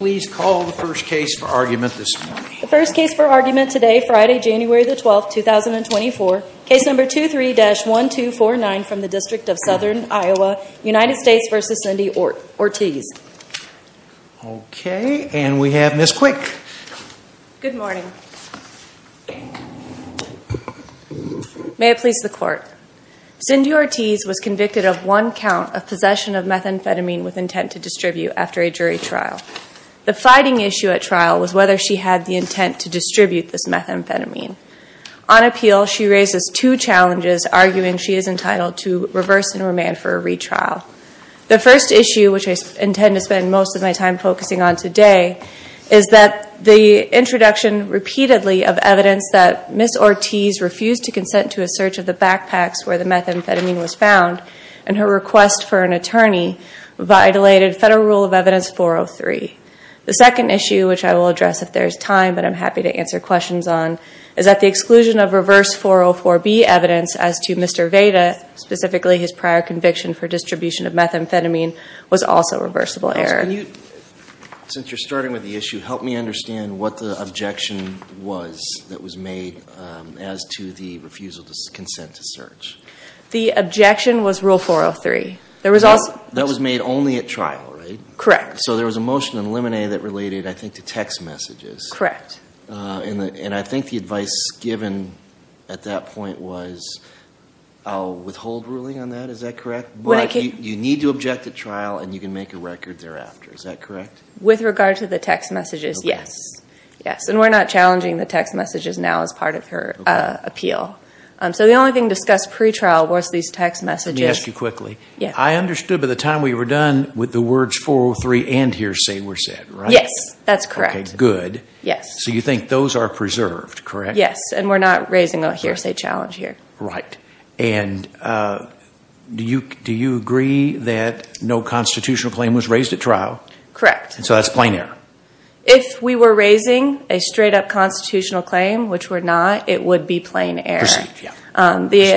Cindy Ortiz was convicted of one count of possession of methamphetamine with intent to distribute after a jury trial. The fighting issue at trial was whether she had the intent to distribute this methamphetamine. On appeal, she raises two challenges arguing she is entitled to reverse and remand for a retrial. The first issue, which I intend to spend most of my time focusing on today, is that the introduction repeatedly of evidence that Ms. Ortiz refused to consent to a search of the backpacks where the methamphetamine was found and her request for an attorney violated Federal Rule of Evidence 403. The second issue, which I will address if there is time, but I'm happy to answer questions on, is that the exclusion of reverse 404B evidence as to Mr. Veda, specifically his prior conviction for distribution of methamphetamine, was also reversible error. Can you, since you're starting with the issue, help me understand what the objection was The objection was Rule 403. That was made only at trial, right? Correct. So there was a motion in Lemonade that related, I think, to text messages. Correct. And I think the advice given at that point was a withhold ruling on that, is that correct? You need to object at trial and you can make a record thereafter, is that correct? With regard to the text messages, yes. And we're not challenging the text messages now as part of her appeal. So the only thing discussed pre-trial was these text messages. Let me ask you quickly. I understood by the time we were done with the words 403 and hearsay were said, right? Yes, that's correct. Okay, good. Yes. So you think those are preserved, correct? Yes, and we're not raising a hearsay challenge here. Right. And do you agree that no constitutional claim was raised at trial? Correct. So that's plain error? If we were raising a straight-up constitutional claim, which we're not, it would be plain error. Perceived, yeah.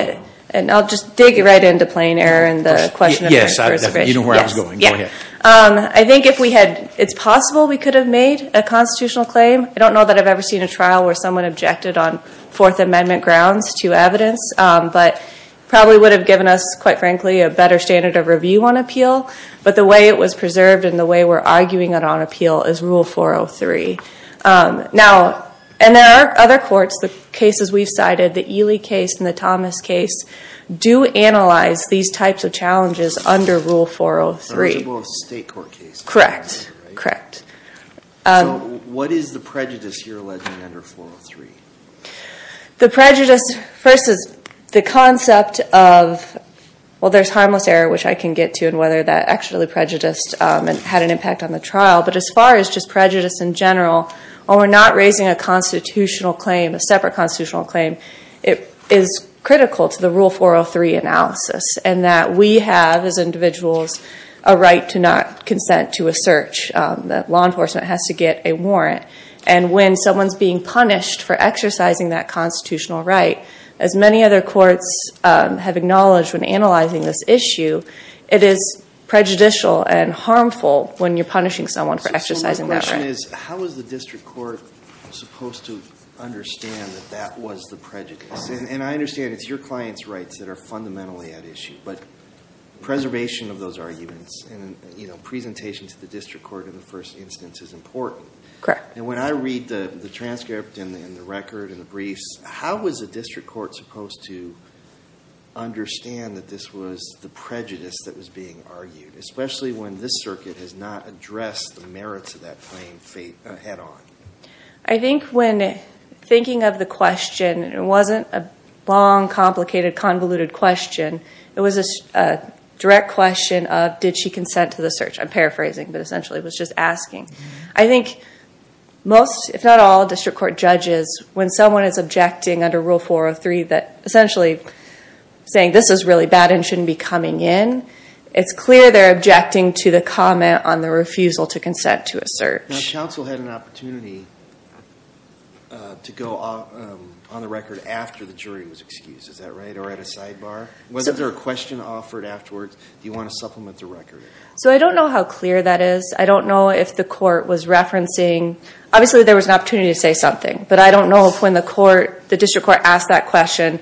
And I'll just dig right into plain error and the question of the first version. Yes, you know where I was going. Go ahead. I think if we had, it's possible we could have made a constitutional claim. I don't know that I've ever seen a trial where someone objected on Fourth Amendment grounds to evidence, but probably would have given us, quite frankly, a better standard of review on appeal. But the way it was preserved and the way we're arguing it on appeal is Rule 403. Now, and there are other courts, the cases we've cited, the Ely case and the Thomas case, do analyze these types of challenges under Rule 403. Eligible state court cases. Correct. Correct. So what is the prejudice you're alleging under 403? The prejudice versus the concept of, well, there's harmless error, which I can get to, and whether that actually prejudiced and had an impact on the trial. But as far as just prejudice in general, when we're not raising a constitutional claim, a separate constitutional claim, it is critical to the Rule 403 analysis. And that we have, as individuals, a right to not consent to a search. That law enforcement has to get a warrant. And when someone's being punished for exercising that constitutional right, as many other courts have acknowledged when analyzing this issue, it is prejudicial and harmful when you're punishing someone for exercising that right. So my question is, how is the district court supposed to understand that that was the prejudice? And I understand it's your client's rights that are fundamentally at issue. But preservation of those arguments and presentation to the district court in the first instance is important. Correct. And when I read the transcript and the record and the briefs, how was the district court supposed to understand that this was the prejudice that was being argued? Especially when this circuit has not addressed the merits of that claim head on? I think when thinking of the question, it wasn't a long, complicated, convoluted question. It was a direct question of, did she consent to the search? I'm paraphrasing, but essentially it was just asking. I think most, if not all, district court judges, when someone is objecting under Rule 403, that essentially saying this is really bad and shouldn't be coming in, it's clear they're objecting to the comment on the refusal to consent to a search. Now, the council had an opportunity to go on the record after the jury was excused, is that right? Or at a sidebar? Was there a question offered afterwards? Do you want to supplement the record? So I don't know how clear that is. I don't know if the court was referencing. Obviously, there was an opportunity to say something, but I don't know if when the court, the district court asked that question.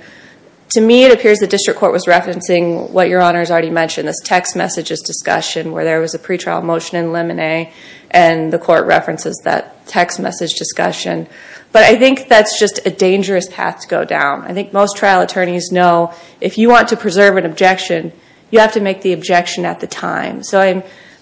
To me, it appears the district court was referencing what Your Honor has already mentioned, this text messages discussion where there was a pretrial motion in lemonade and the court references that text message discussion. But I think that's just a dangerous path to go down. I think most trial attorneys know if you want to preserve an objection, you have to make the objection at the time. So I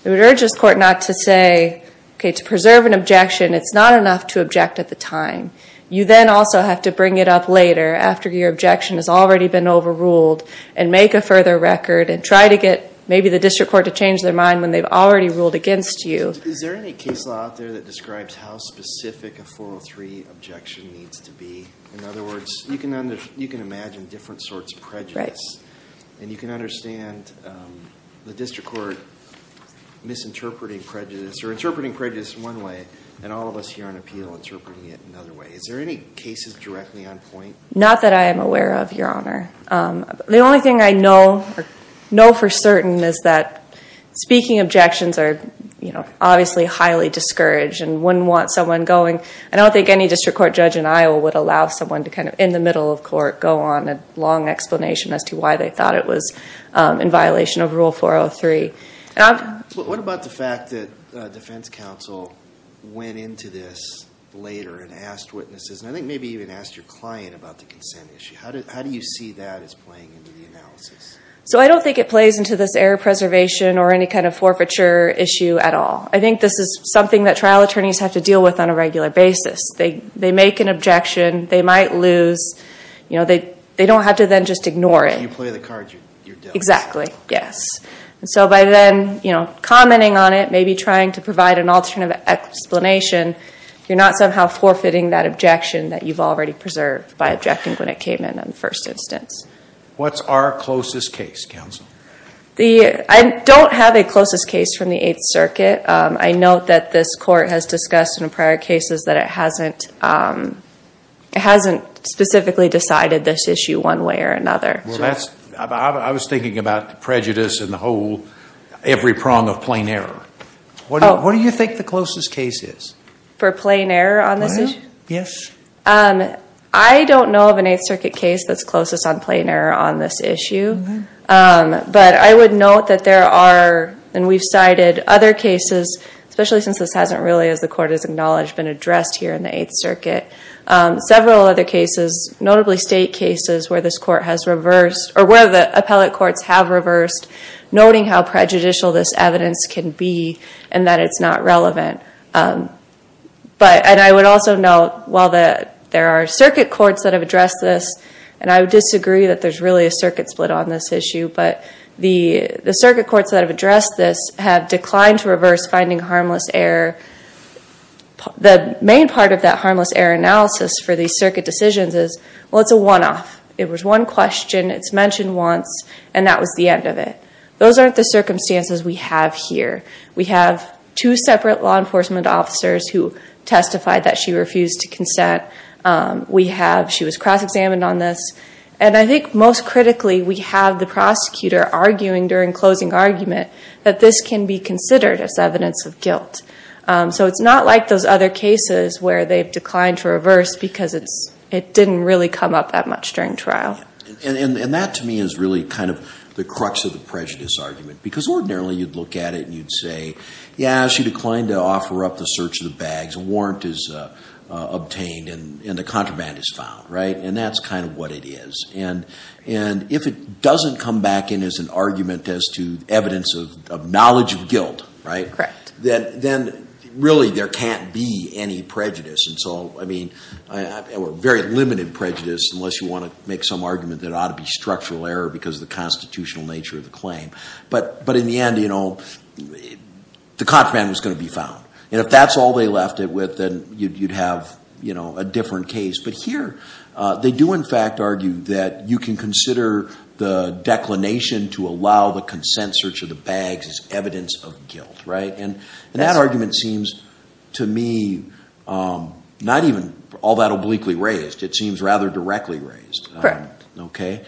would urge this court not to say, okay, to preserve an objection, it's not enough to object at the time. You then also have to bring it up later after your objection has already been overruled and make a further record and try to get maybe the district court to change their mind when they've already ruled against you. Is there any case law out there that describes how specific a 403 objection needs to be? In other words, you can imagine different sorts of prejudice. And you can understand the district court misinterpreting prejudice or interpreting prejudice in one way and all of us here on appeal interpreting it in another way. Is there any cases directly on point? Not that I am aware of, Your Honor. The only thing I know for certain is that speaking objections are obviously highly discouraged and wouldn't want someone going. I don't think any district court judge in Iowa would allow someone to kind of in the middle of violation of Rule 403. What about the fact that defense counsel went into this later and asked witnesses, and I think maybe even asked your client about the consent issue? How do you see that as playing into the analysis? So I don't think it plays into this error preservation or any kind of forfeiture issue at all. I think this is something that trial attorneys have to deal with on a regular basis. They make an objection, they might lose. They don't have to then just ignore it. You play the cards you're dealt. Exactly, yes. So by then, you know, commenting on it, maybe trying to provide an alternative explanation, you're not somehow forfeiting that objection that you've already preserved by objecting when it came in on the first instance. What's our closest case, counsel? I don't have a closest case from the Eighth Circuit. I note that this court has discussed in prior cases that it hasn't specifically decided this issue one way or another. I was thinking about the prejudice and the whole, every prong of plain error. What do you think the closest case is? For plain error on this issue? Yes. I don't know of an Eighth Circuit case that's closest on plain error on this issue. But I would note that there are, and we've cited other cases, especially since this hasn't really, as the court has acknowledged, been addressed here in the Eighth Circuit, several other cases, notably state cases where this court has reversed, or where the appellate courts have reversed, noting how prejudicial this evidence can be and that it's not relevant. But, and I would also note, while there are circuit courts that have addressed this, and I would disagree that there's really a circuit split on this issue, but the circuit courts that have addressed this have declined to reverse finding harmless error. The main part of that harmless error analysis for these circuit decisions is, well, it's a one-off. It was one question, it's mentioned once, and that was the end of it. Those aren't the circumstances we have here. We have two separate law enforcement officers who testified that she refused to consent. We have, she was cross-examined on this. And I think most critically, we have the prosecutor arguing during closing argument that this can be considered as evidence of guilt. So it's not like those other cases where they've declined to reverse because it didn't really come up that much during trial. And that, to me, is really kind of the crux of the prejudice argument, because ordinarily you'd look at it and you'd say, yeah, she declined to offer up the search of the bags, a warrant is obtained, and the contraband is found, right? And that's kind of what it is. And if it doesn't come back in as an argument as to evidence of knowledge of guilt, right? Correct. Then really there can't be any prejudice. And so, I mean, or very limited prejudice, unless you want to make some argument that it ought to be structural error because of the constitutional nature of the claim. But in the end, you know, the contraband was going to be found. And if that's all they left it with, then you'd have, you know, a different case. But here, they do in fact argue that you can consider the declination to allow the consent search of the bags as evidence of guilt, right? And that argument seems to me not even all that obliquely raised. It seems rather directly raised. Correct. Okay.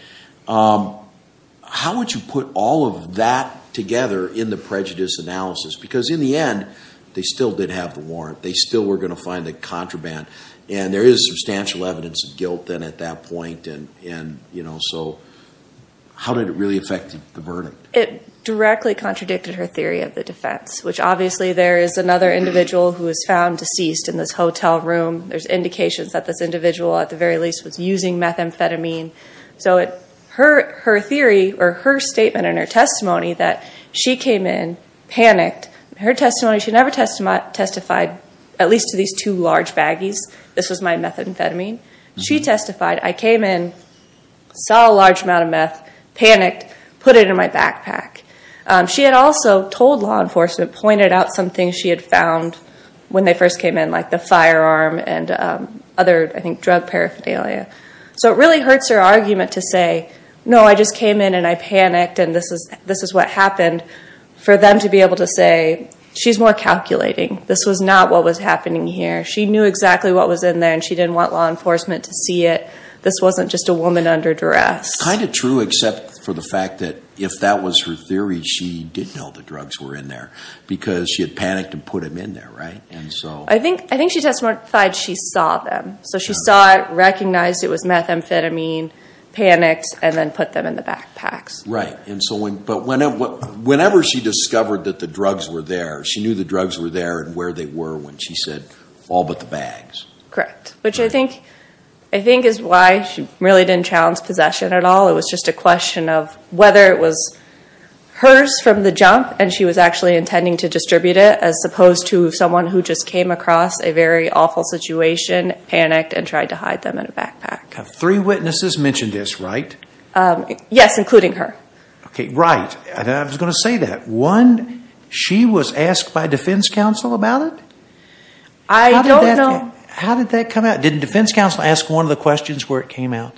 How would you put all of that together in the prejudice analysis? Because in the end, they still did have the warrant. They still were going to find the contraband. And there is substantial evidence of guilt then at that point. And, you know, so how did it really affect the verdict? It directly contradicted her theory of the defense, which obviously there is another individual who was found deceased in this hotel room. There's indications that this individual at the very least was using methamphetamine. So her theory or her statement and her testimony that she came in panicked, her testimony, she never testified at least to these two large baggies. This was my methamphetamine. She testified, I came in, saw a large amount of meth, panicked, put it in my backpack. She had also told law enforcement, pointed out some things she had found when they first came in, like the firearm and other, I think, drug paraphernalia. So it really hurts her argument to say, no, I just came in and I panicked and this is what happened, for them to be able to say, she's more calculating. This was not what was happening here. She knew exactly what was in there and she didn't want law enforcement to see it. This wasn't just a woman under duress. Kind of true except for the fact that if that was her theory, she didn't know the drugs were in there because she had panicked and put them in there, right? I think she testified she saw them. So she saw it, recognized it was methamphetamine, panicked, and then put them in the backpacks. Right. But whenever she discovered that the drugs were there, she knew the drugs were there and where they were when she said, all but the bags. Correct. Which I think is why she really didn't challenge possession at all. It was just a question of whether it was hers from the jump and she was actually intending to distribute it as opposed to someone who just came across a very awful situation, panicked, and tried to hide them in a backpack. Three witnesses mentioned this, right? Yes, including her. Okay, right. I was going to say that. One, she was asked by defense counsel about it? I don't know. How did that come out? Did defense counsel ask one of the questions where it came out?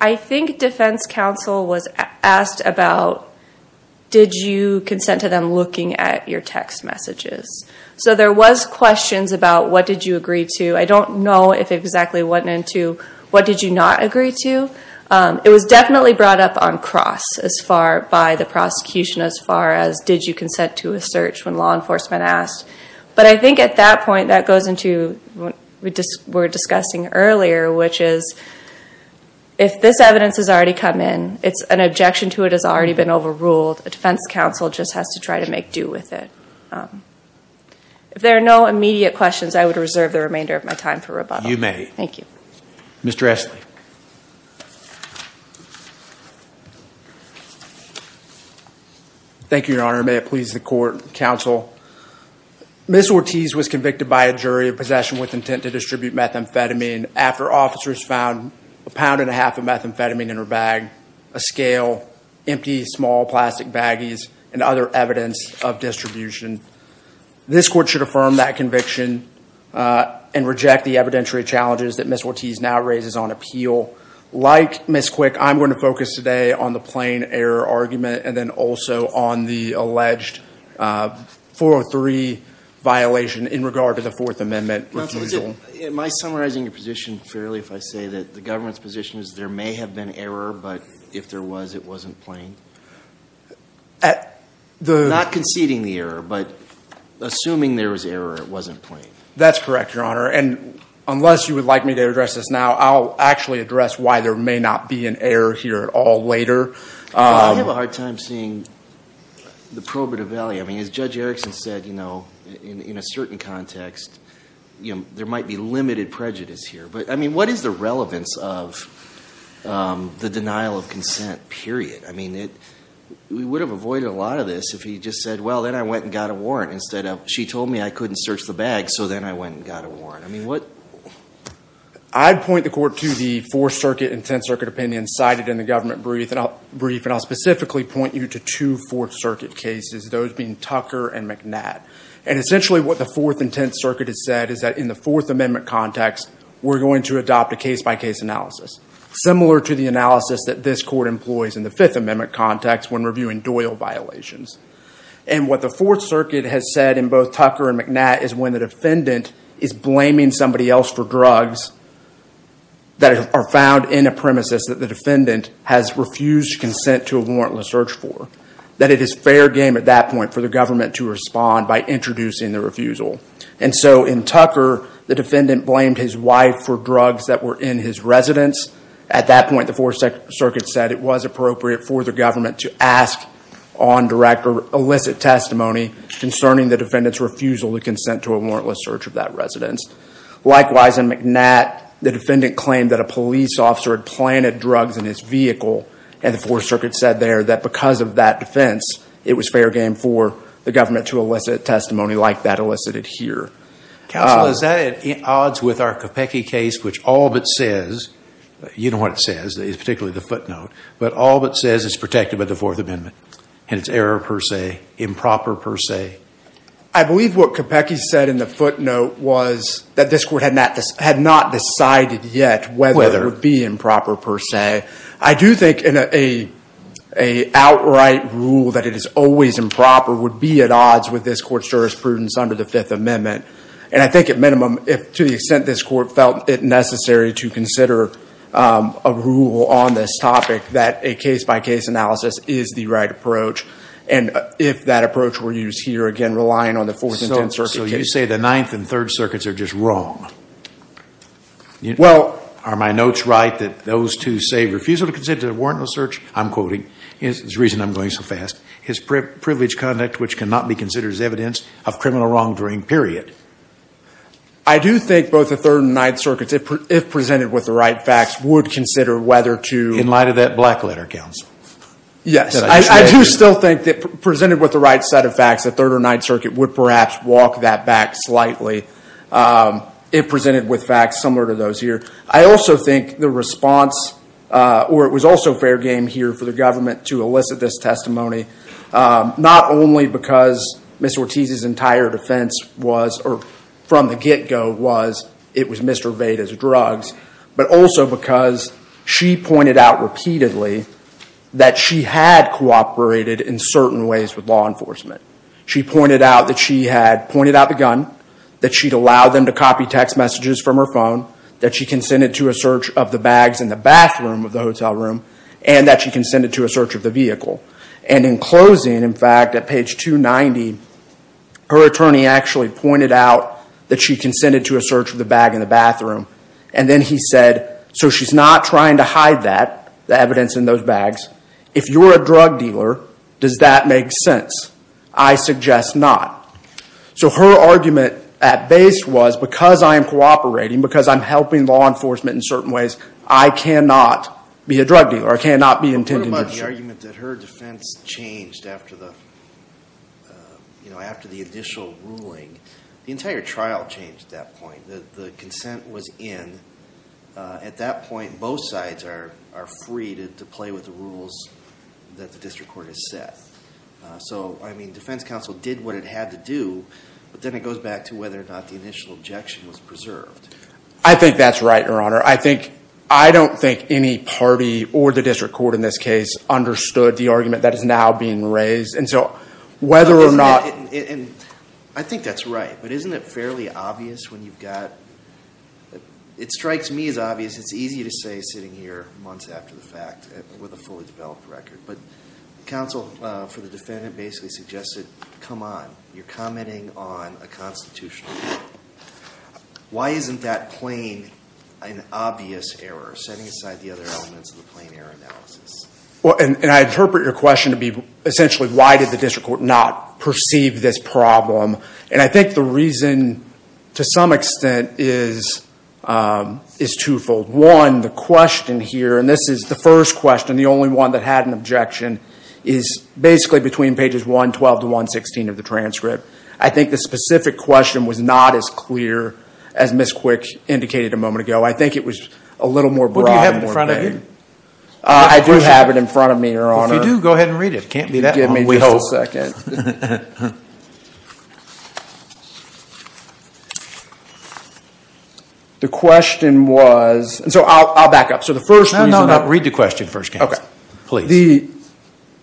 I think defense counsel was asked about did you consent to them looking at your text messages. So there was questions about what did you agree to. I don't know if it exactly went into what did you not agree to. It was definitely brought up on cross by the prosecution as far as did you consent to a search when law enforcement asked. But I think at that point that goes into what we were discussing earlier, which is if this evidence has already come in, an objection to it has already been overruled. A defense counsel just has to try to make due with it. If there are no immediate questions, I would reserve the remainder of my time for rebuttal. You may. Thank you. Mr. Ashley. Thank you, Your Honor. May it please the court and counsel. Ms. Ortiz was convicted by a jury of possession with intent to distribute methamphetamine after officers found a pound and a half of methamphetamine in her bag, a scale, empty small plastic baggies, and other evidence of distribution. This court should affirm that conviction and reject the evidentiary challenges that Ms. Ortiz now raises on appeal. Like Ms. Quick, I'm going to focus today on the plain error argument and then also on the alleged 403 violation in regard to the Fourth Amendment refusal. Am I summarizing your position fairly if I say that the government's position is there may have been error, but if there was, it wasn't plain? Not conceding the error, but assuming there was error, it wasn't plain. That's correct, Your Honor. And unless you would like me to address this now, I'll actually address why there may not be an error here at all later. I have a hard time seeing the probative value. I mean, as Judge Erickson said, you know, in a certain context, there might be limited prejudice here. But, I mean, what is the relevance of the denial of consent, period? I mean, we would have avoided a lot of this if he just said, well, then I went and got a warrant instead of, she told me I couldn't search the bag, so then I went and got a warrant. I mean, what? I'd point the court to the Fourth Circuit and Tenth Circuit opinions cited in the government brief, and I'll specifically point you to two Fourth Circuit cases, those being Tucker and McNatt. And essentially what the Fourth and Tenth Circuit has said is that in the Fourth Amendment context, we're going to adopt a case-by-case analysis, similar to the analysis that this court employs in the Fifth Amendment context when reviewing Doyle violations. And what the Fourth Circuit has said in both Tucker and McNatt is when the defendant is blaming somebody else for drugs that are found in a premises that the defendant has refused consent to a warrantless search for, that it is fair game at that point for the government to respond by introducing the refusal. And so in Tucker, the defendant blamed his wife for drugs that were in his residence. At that point, the Fourth Circuit said it was appropriate for the government to ask on direct or illicit testimony concerning the defendant's refusal to consent to a warrantless search of that residence. Likewise, in McNatt, the defendant claimed that a police officer had planted drugs in his vehicle, and the Fourth Circuit said there that because of that defense, it was fair game for the government to elicit testimony like that elicited here. Counsel, is that at odds with our Capecchi case, which all but says, you know what it says, particularly the footnote, but all but says it's protected by the Fourth Amendment, and it's error per se, improper per se? I believe what Capecchi said in the footnote was that this court had not decided yet whether it would be improper per se. I do think an outright rule that it is always improper would be at odds with this court's jurisprudence under the Fifth Amendment. And I think at minimum, to the extent this court felt it necessary to consider a rule on this topic, that a case-by-case analysis is the right approach. And if that approach were used here, again, relying on the Fourth and Tenth Circuit cases. So you say the Ninth and Third Circuits are just wrong. Well. Are my notes right that those two say refusal to consider warrantless search, I'm quoting, is the reason I'm going so fast, is privilege conduct which cannot be considered as evidence of criminal wrongdoing, period. I do think both the Third and Ninth Circuits, if presented with the right facts, would consider whether to. In light of that black letter, counsel. Yes. I do still think that presented with the right set of facts, the Third or Ninth Circuit would perhaps walk that back slightly. If presented with facts similar to those here. I also think the response, or it was also fair game here for the government to elicit this testimony, not only because Ms. Ortiz's entire defense was, or from the get-go was, it was Mr. Veda's drugs, but also because she pointed out repeatedly that she had cooperated in certain ways with law enforcement. She pointed out that she had pointed out the gun, that she'd allowed them to copy text messages from her phone, that she consented to a search of the bags in the bathroom of the hotel room, and that she consented to a search of the vehicle. And in closing, in fact, at page 290, her attorney actually pointed out that she consented to a search of the bag in the bathroom. And then he said, so she's not trying to hide that, the evidence in those bags. If you're a drug dealer, does that make sense? I suggest not. So her argument at base was, because I am cooperating, because I'm helping law enforcement in certain ways, I cannot be a drug dealer, I cannot be intending to. But what about the argument that her defense changed after the, you know, after the additional ruling? The entire trial changed at that point. The consent was in. At that point, both sides are free to play with the rules that the district court has set. So, I mean, defense counsel did what it had to do, but then it goes back to whether or not the initial objection was preserved. I think that's right, Your Honor. I don't think any party, or the district court in this case, understood the argument that is now being raised. I think that's right. But isn't it fairly obvious when you've got, it strikes me as obvious, it's easy to say sitting here months after the fact, with a fully developed record. But counsel for the defendant basically suggested, come on, you're commenting on a constitutional error. Why isn't that plain an obvious error, setting aside the other elements of the plain error analysis? Well, and I interpret your question to be essentially, why did the district court not perceive this problem? And I think the reason, to some extent, is twofold. One, the question here, and this is the first question, the only one that had an objection, is basically between pages 112 to 116 of the transcript. I think the specific question was not as clear as Ms. Quick indicated a moment ago. I think it was a little more broad. What do you have in front of you? I do have it in front of me, Your Honor. Well, if you do, go ahead and read it. It can't be that long wasted. Give me just a second. The question was, and so I'll back up. No, no, no. Read the question first, counsel. Okay. Please.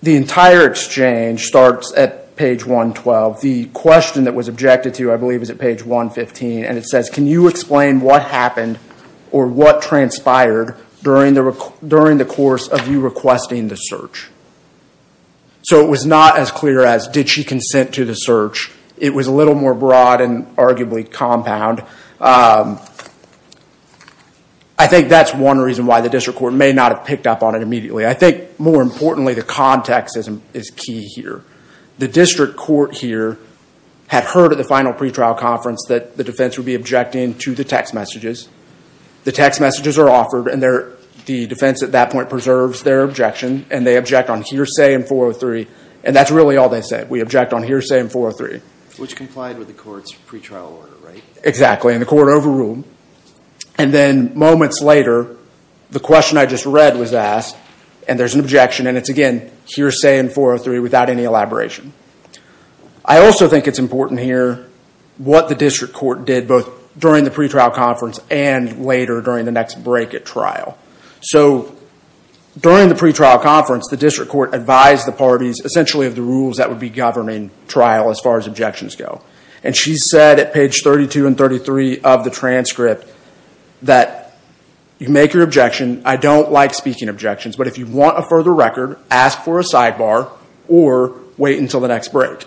The entire exchange starts at page 112. The question that was objected to, I believe, is at page 115. And it says, can you explain what happened or what transpired during the course of you requesting the search? So it was not as clear as, did she consent to the search? It was a little more broad and arguably compound. I think that's one reason why the district court may not have picked up on it immediately. I think, more importantly, the context is key here. The district court here had heard at the final pretrial conference that the defense would be objecting to the text messages. The text messages are offered, and the defense at that point preserves their objection. And they object on hearsay in 403. And that's really all they said, we object on hearsay in 403. Which complied with the court's pretrial order, right? Exactly, and the court overruled. And then moments later, the question I just read was asked, and there's an objection. And it's, again, hearsay in 403 without any elaboration. I also think it's important to hear what the district court did both during the pretrial conference and later during the next break at trial. So during the pretrial conference, the district court advised the parties essentially of the rules that would be governing trial as far as objections go. And she said at page 32 and 33 of the transcript that you make your objection. I don't like speaking objections. But if you want a further record, ask for a sidebar or wait until the next break.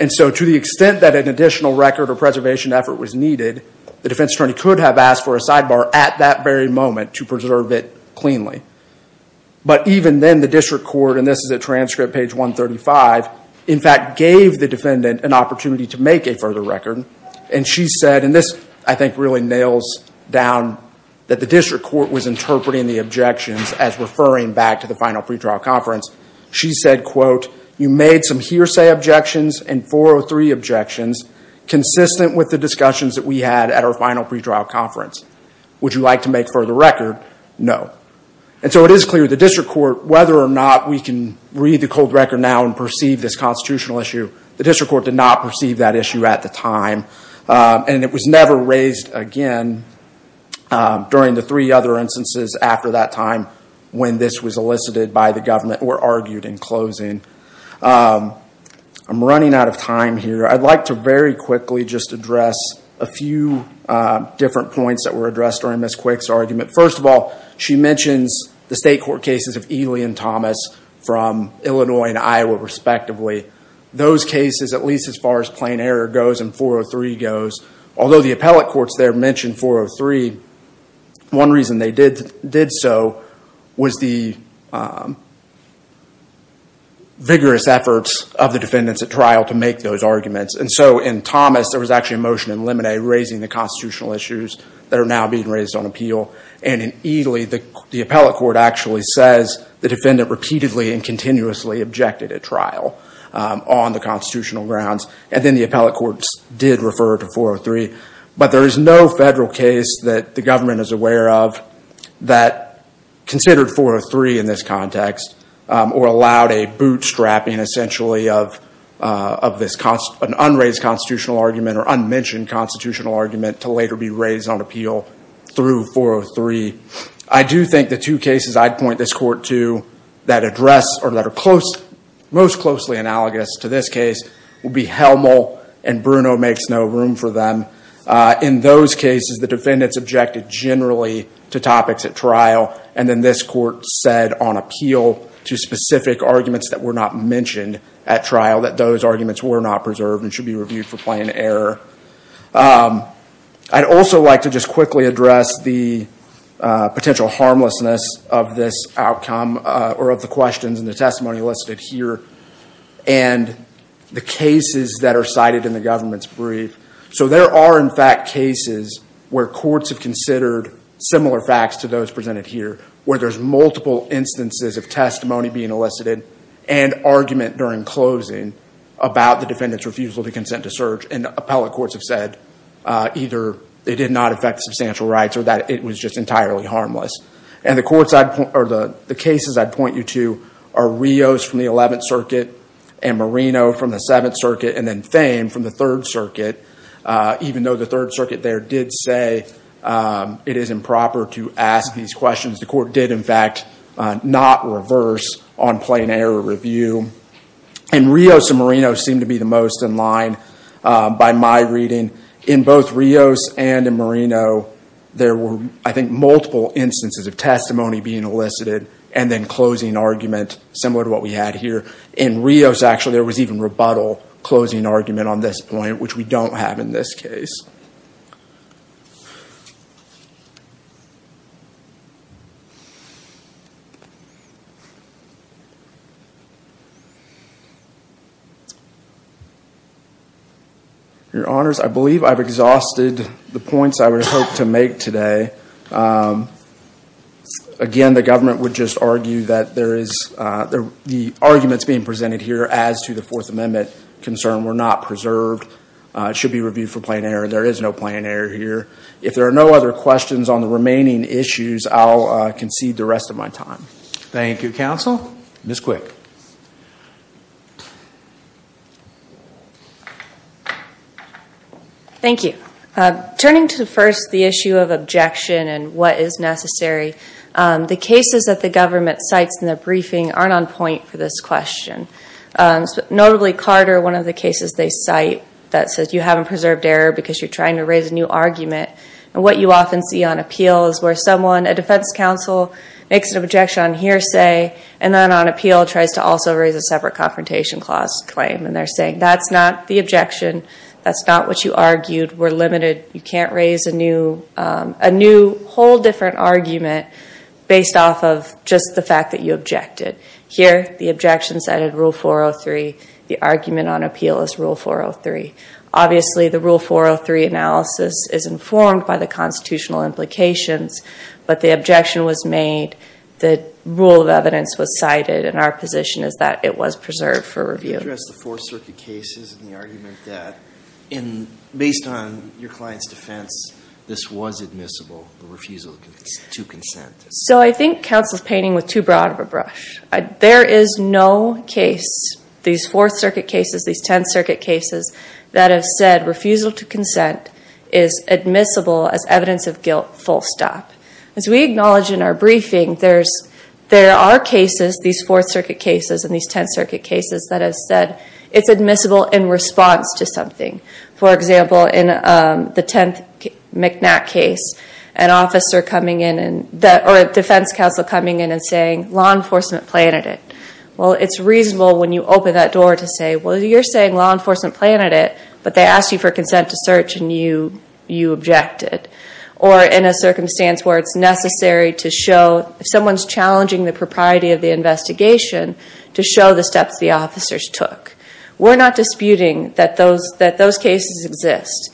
And so to the extent that an additional record or preservation effort was needed, the defense attorney could have asked for a sidebar at that very moment to preserve it cleanly. But even then, the district court, and this is a transcript, page 135, in fact gave the defendant an opportunity to make a further record. And she said, and this I think really nails down that the district court was interpreting the objections as referring back to the final pretrial conference. She said, quote, you made some hearsay objections and 403 objections consistent with the discussions that we had at our final pretrial conference. Would you like to make further record? No. And so it is clear the district court, whether or not we can read the cold record now and perceive this constitutional issue, the district court did not perceive that issue at the time. And it was never raised again during the three other instances after that time when this was elicited by the government or argued in closing. I'm running out of time here. I'd like to very quickly just address a few different points that were addressed during Ms. Quick's argument. First of all, she mentions the state court cases of Ely and Thomas from Illinois and Iowa, respectively. Those cases, at least as far as plain error goes and 403 goes, although the appellate courts there mentioned 403, one reason they did so was the vigorous efforts of the defendants at trial to make those arguments. And so in Thomas, there was actually a motion in Lemonet raising the constitutional issues that are now being raised on appeal. And in Ely, the appellate court actually says the defendant repeatedly and continuously objected at trial on the constitutional grounds. And then the appellate courts did refer to 403. But there is no federal case that the government is aware of that considered 403 in this context or allowed a bootstrapping, essentially, of an unraised constitutional argument or unmentioned constitutional argument to later be raised on appeal through 403. I do think the two cases I'd point this court to that address or that are most closely analogous to this case would be Helmel and Bruno makes no room for them. In those cases, the defendants objected generally to topics at trial. And then this court said on appeal to specific arguments that were not mentioned at trial that those arguments were not preserved and should be reviewed for plain error. I'd also like to just quickly address the potential harmlessness of this outcome or of the questions in the testimony listed here and the cases that are cited in the government's brief. So there are, in fact, cases where courts have considered similar facts to those presented here where there's multiple instances of testimony being elicited and argument during closing about the defendant's refusal to consent to search. And appellate courts have said either it did not affect substantial rights or that it was just entirely harmless. And the cases I'd point you to are Rios from the 11th Circuit and Marino from the 7th Circuit and then Thame from the 3rd Circuit, even though the 3rd Circuit there did say it is improper to ask these questions. The court did, in fact, not reverse on plain error review. In Rios and Marino seemed to be the most in line by my reading. In both Rios and in Marino, there were, I think, multiple instances of testimony being elicited and then closing argument similar to what we had here. In Rios, actually, there was even rebuttal closing argument on this point, which we don't have in this case. Your Honors, I believe I've exhausted the points I would have hoped to make today. Again, the government would just argue that the arguments being presented here as to the Fourth Amendment concern were not preserved. It should be reviewed for plain error. There is no plain error here. If there are no other questions on the remaining issues, I'll concede the rest of my time. Thank you, Counsel. Ms. Quick. Thank you. Turning to, first, the issue of objection and what is necessary, the cases that the government cites in their briefing aren't on point for this question. Notably, Carter, one of the cases they cite that says you haven't preserved error because you're trying to raise a new argument. What you often see on appeal is where someone, a defense counsel, makes an objection on hearsay and then on appeal tries to also raise a separate confrontation clause claim. They're saying, that's not the objection. That's not what you argued. We're limited. You can't raise a new whole different argument based off of just the fact that you objected. Here, the objection cited Rule 403. The argument on appeal is Rule 403. Obviously, the Rule 403 analysis is informed by the constitutional implications, but the objection was made, the rule of evidence was cited, and our position is that it was preserved for review. You addressed the Fourth Circuit cases and the argument that, based on your client's defense, this was admissible, the refusal to consent. I think counsel's painting with too broad of a brush. There is no case, these Fourth Circuit cases, these Tenth Circuit cases, that have said refusal to consent is admissible as evidence of guilt, full stop. As we acknowledge in our briefing, there are cases, these Fourth Circuit cases and these Tenth Circuit cases, that have said it's admissible in response to something. For example, in the 10th McNack case, a defense counsel coming in and saying, law enforcement planted it. Well, it's reasonable when you open that door to say, well, you're saying law enforcement planted it, but they asked you for consent to search and you objected. Or in a circumstance where it's necessary to show, if someone's challenging the propriety of the investigation, to show the steps the officers took. We're not disputing that those cases exist,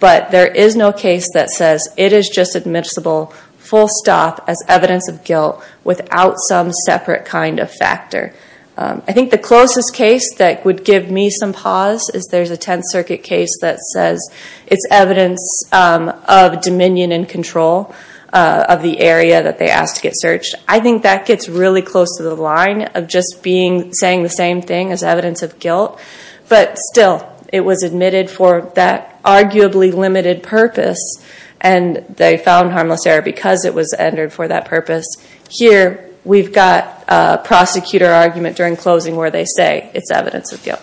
but there is no case that says it is just admissible, full stop, as evidence of guilt, without some separate kind of factor. I think the closest case that would give me some pause is there's a Tenth Circuit case that says it's evidence of dominion and control of the area that they asked to get searched. I think that gets really close to the line of just saying the same thing as evidence of guilt. But still, it was admitted for that arguably limited purpose, and they found harmless error because it was entered for that purpose. Here, we've got a prosecutor argument during closing where they say it's evidence of guilt.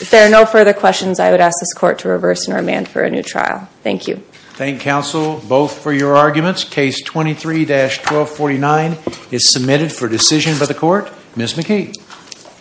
If there are no further questions, I would ask this Court to reverse and remand for a new trial. Thank you. Thank counsel both for your arguments. Case 23-1249 is submitted for decision by the Court. Ms. McKee.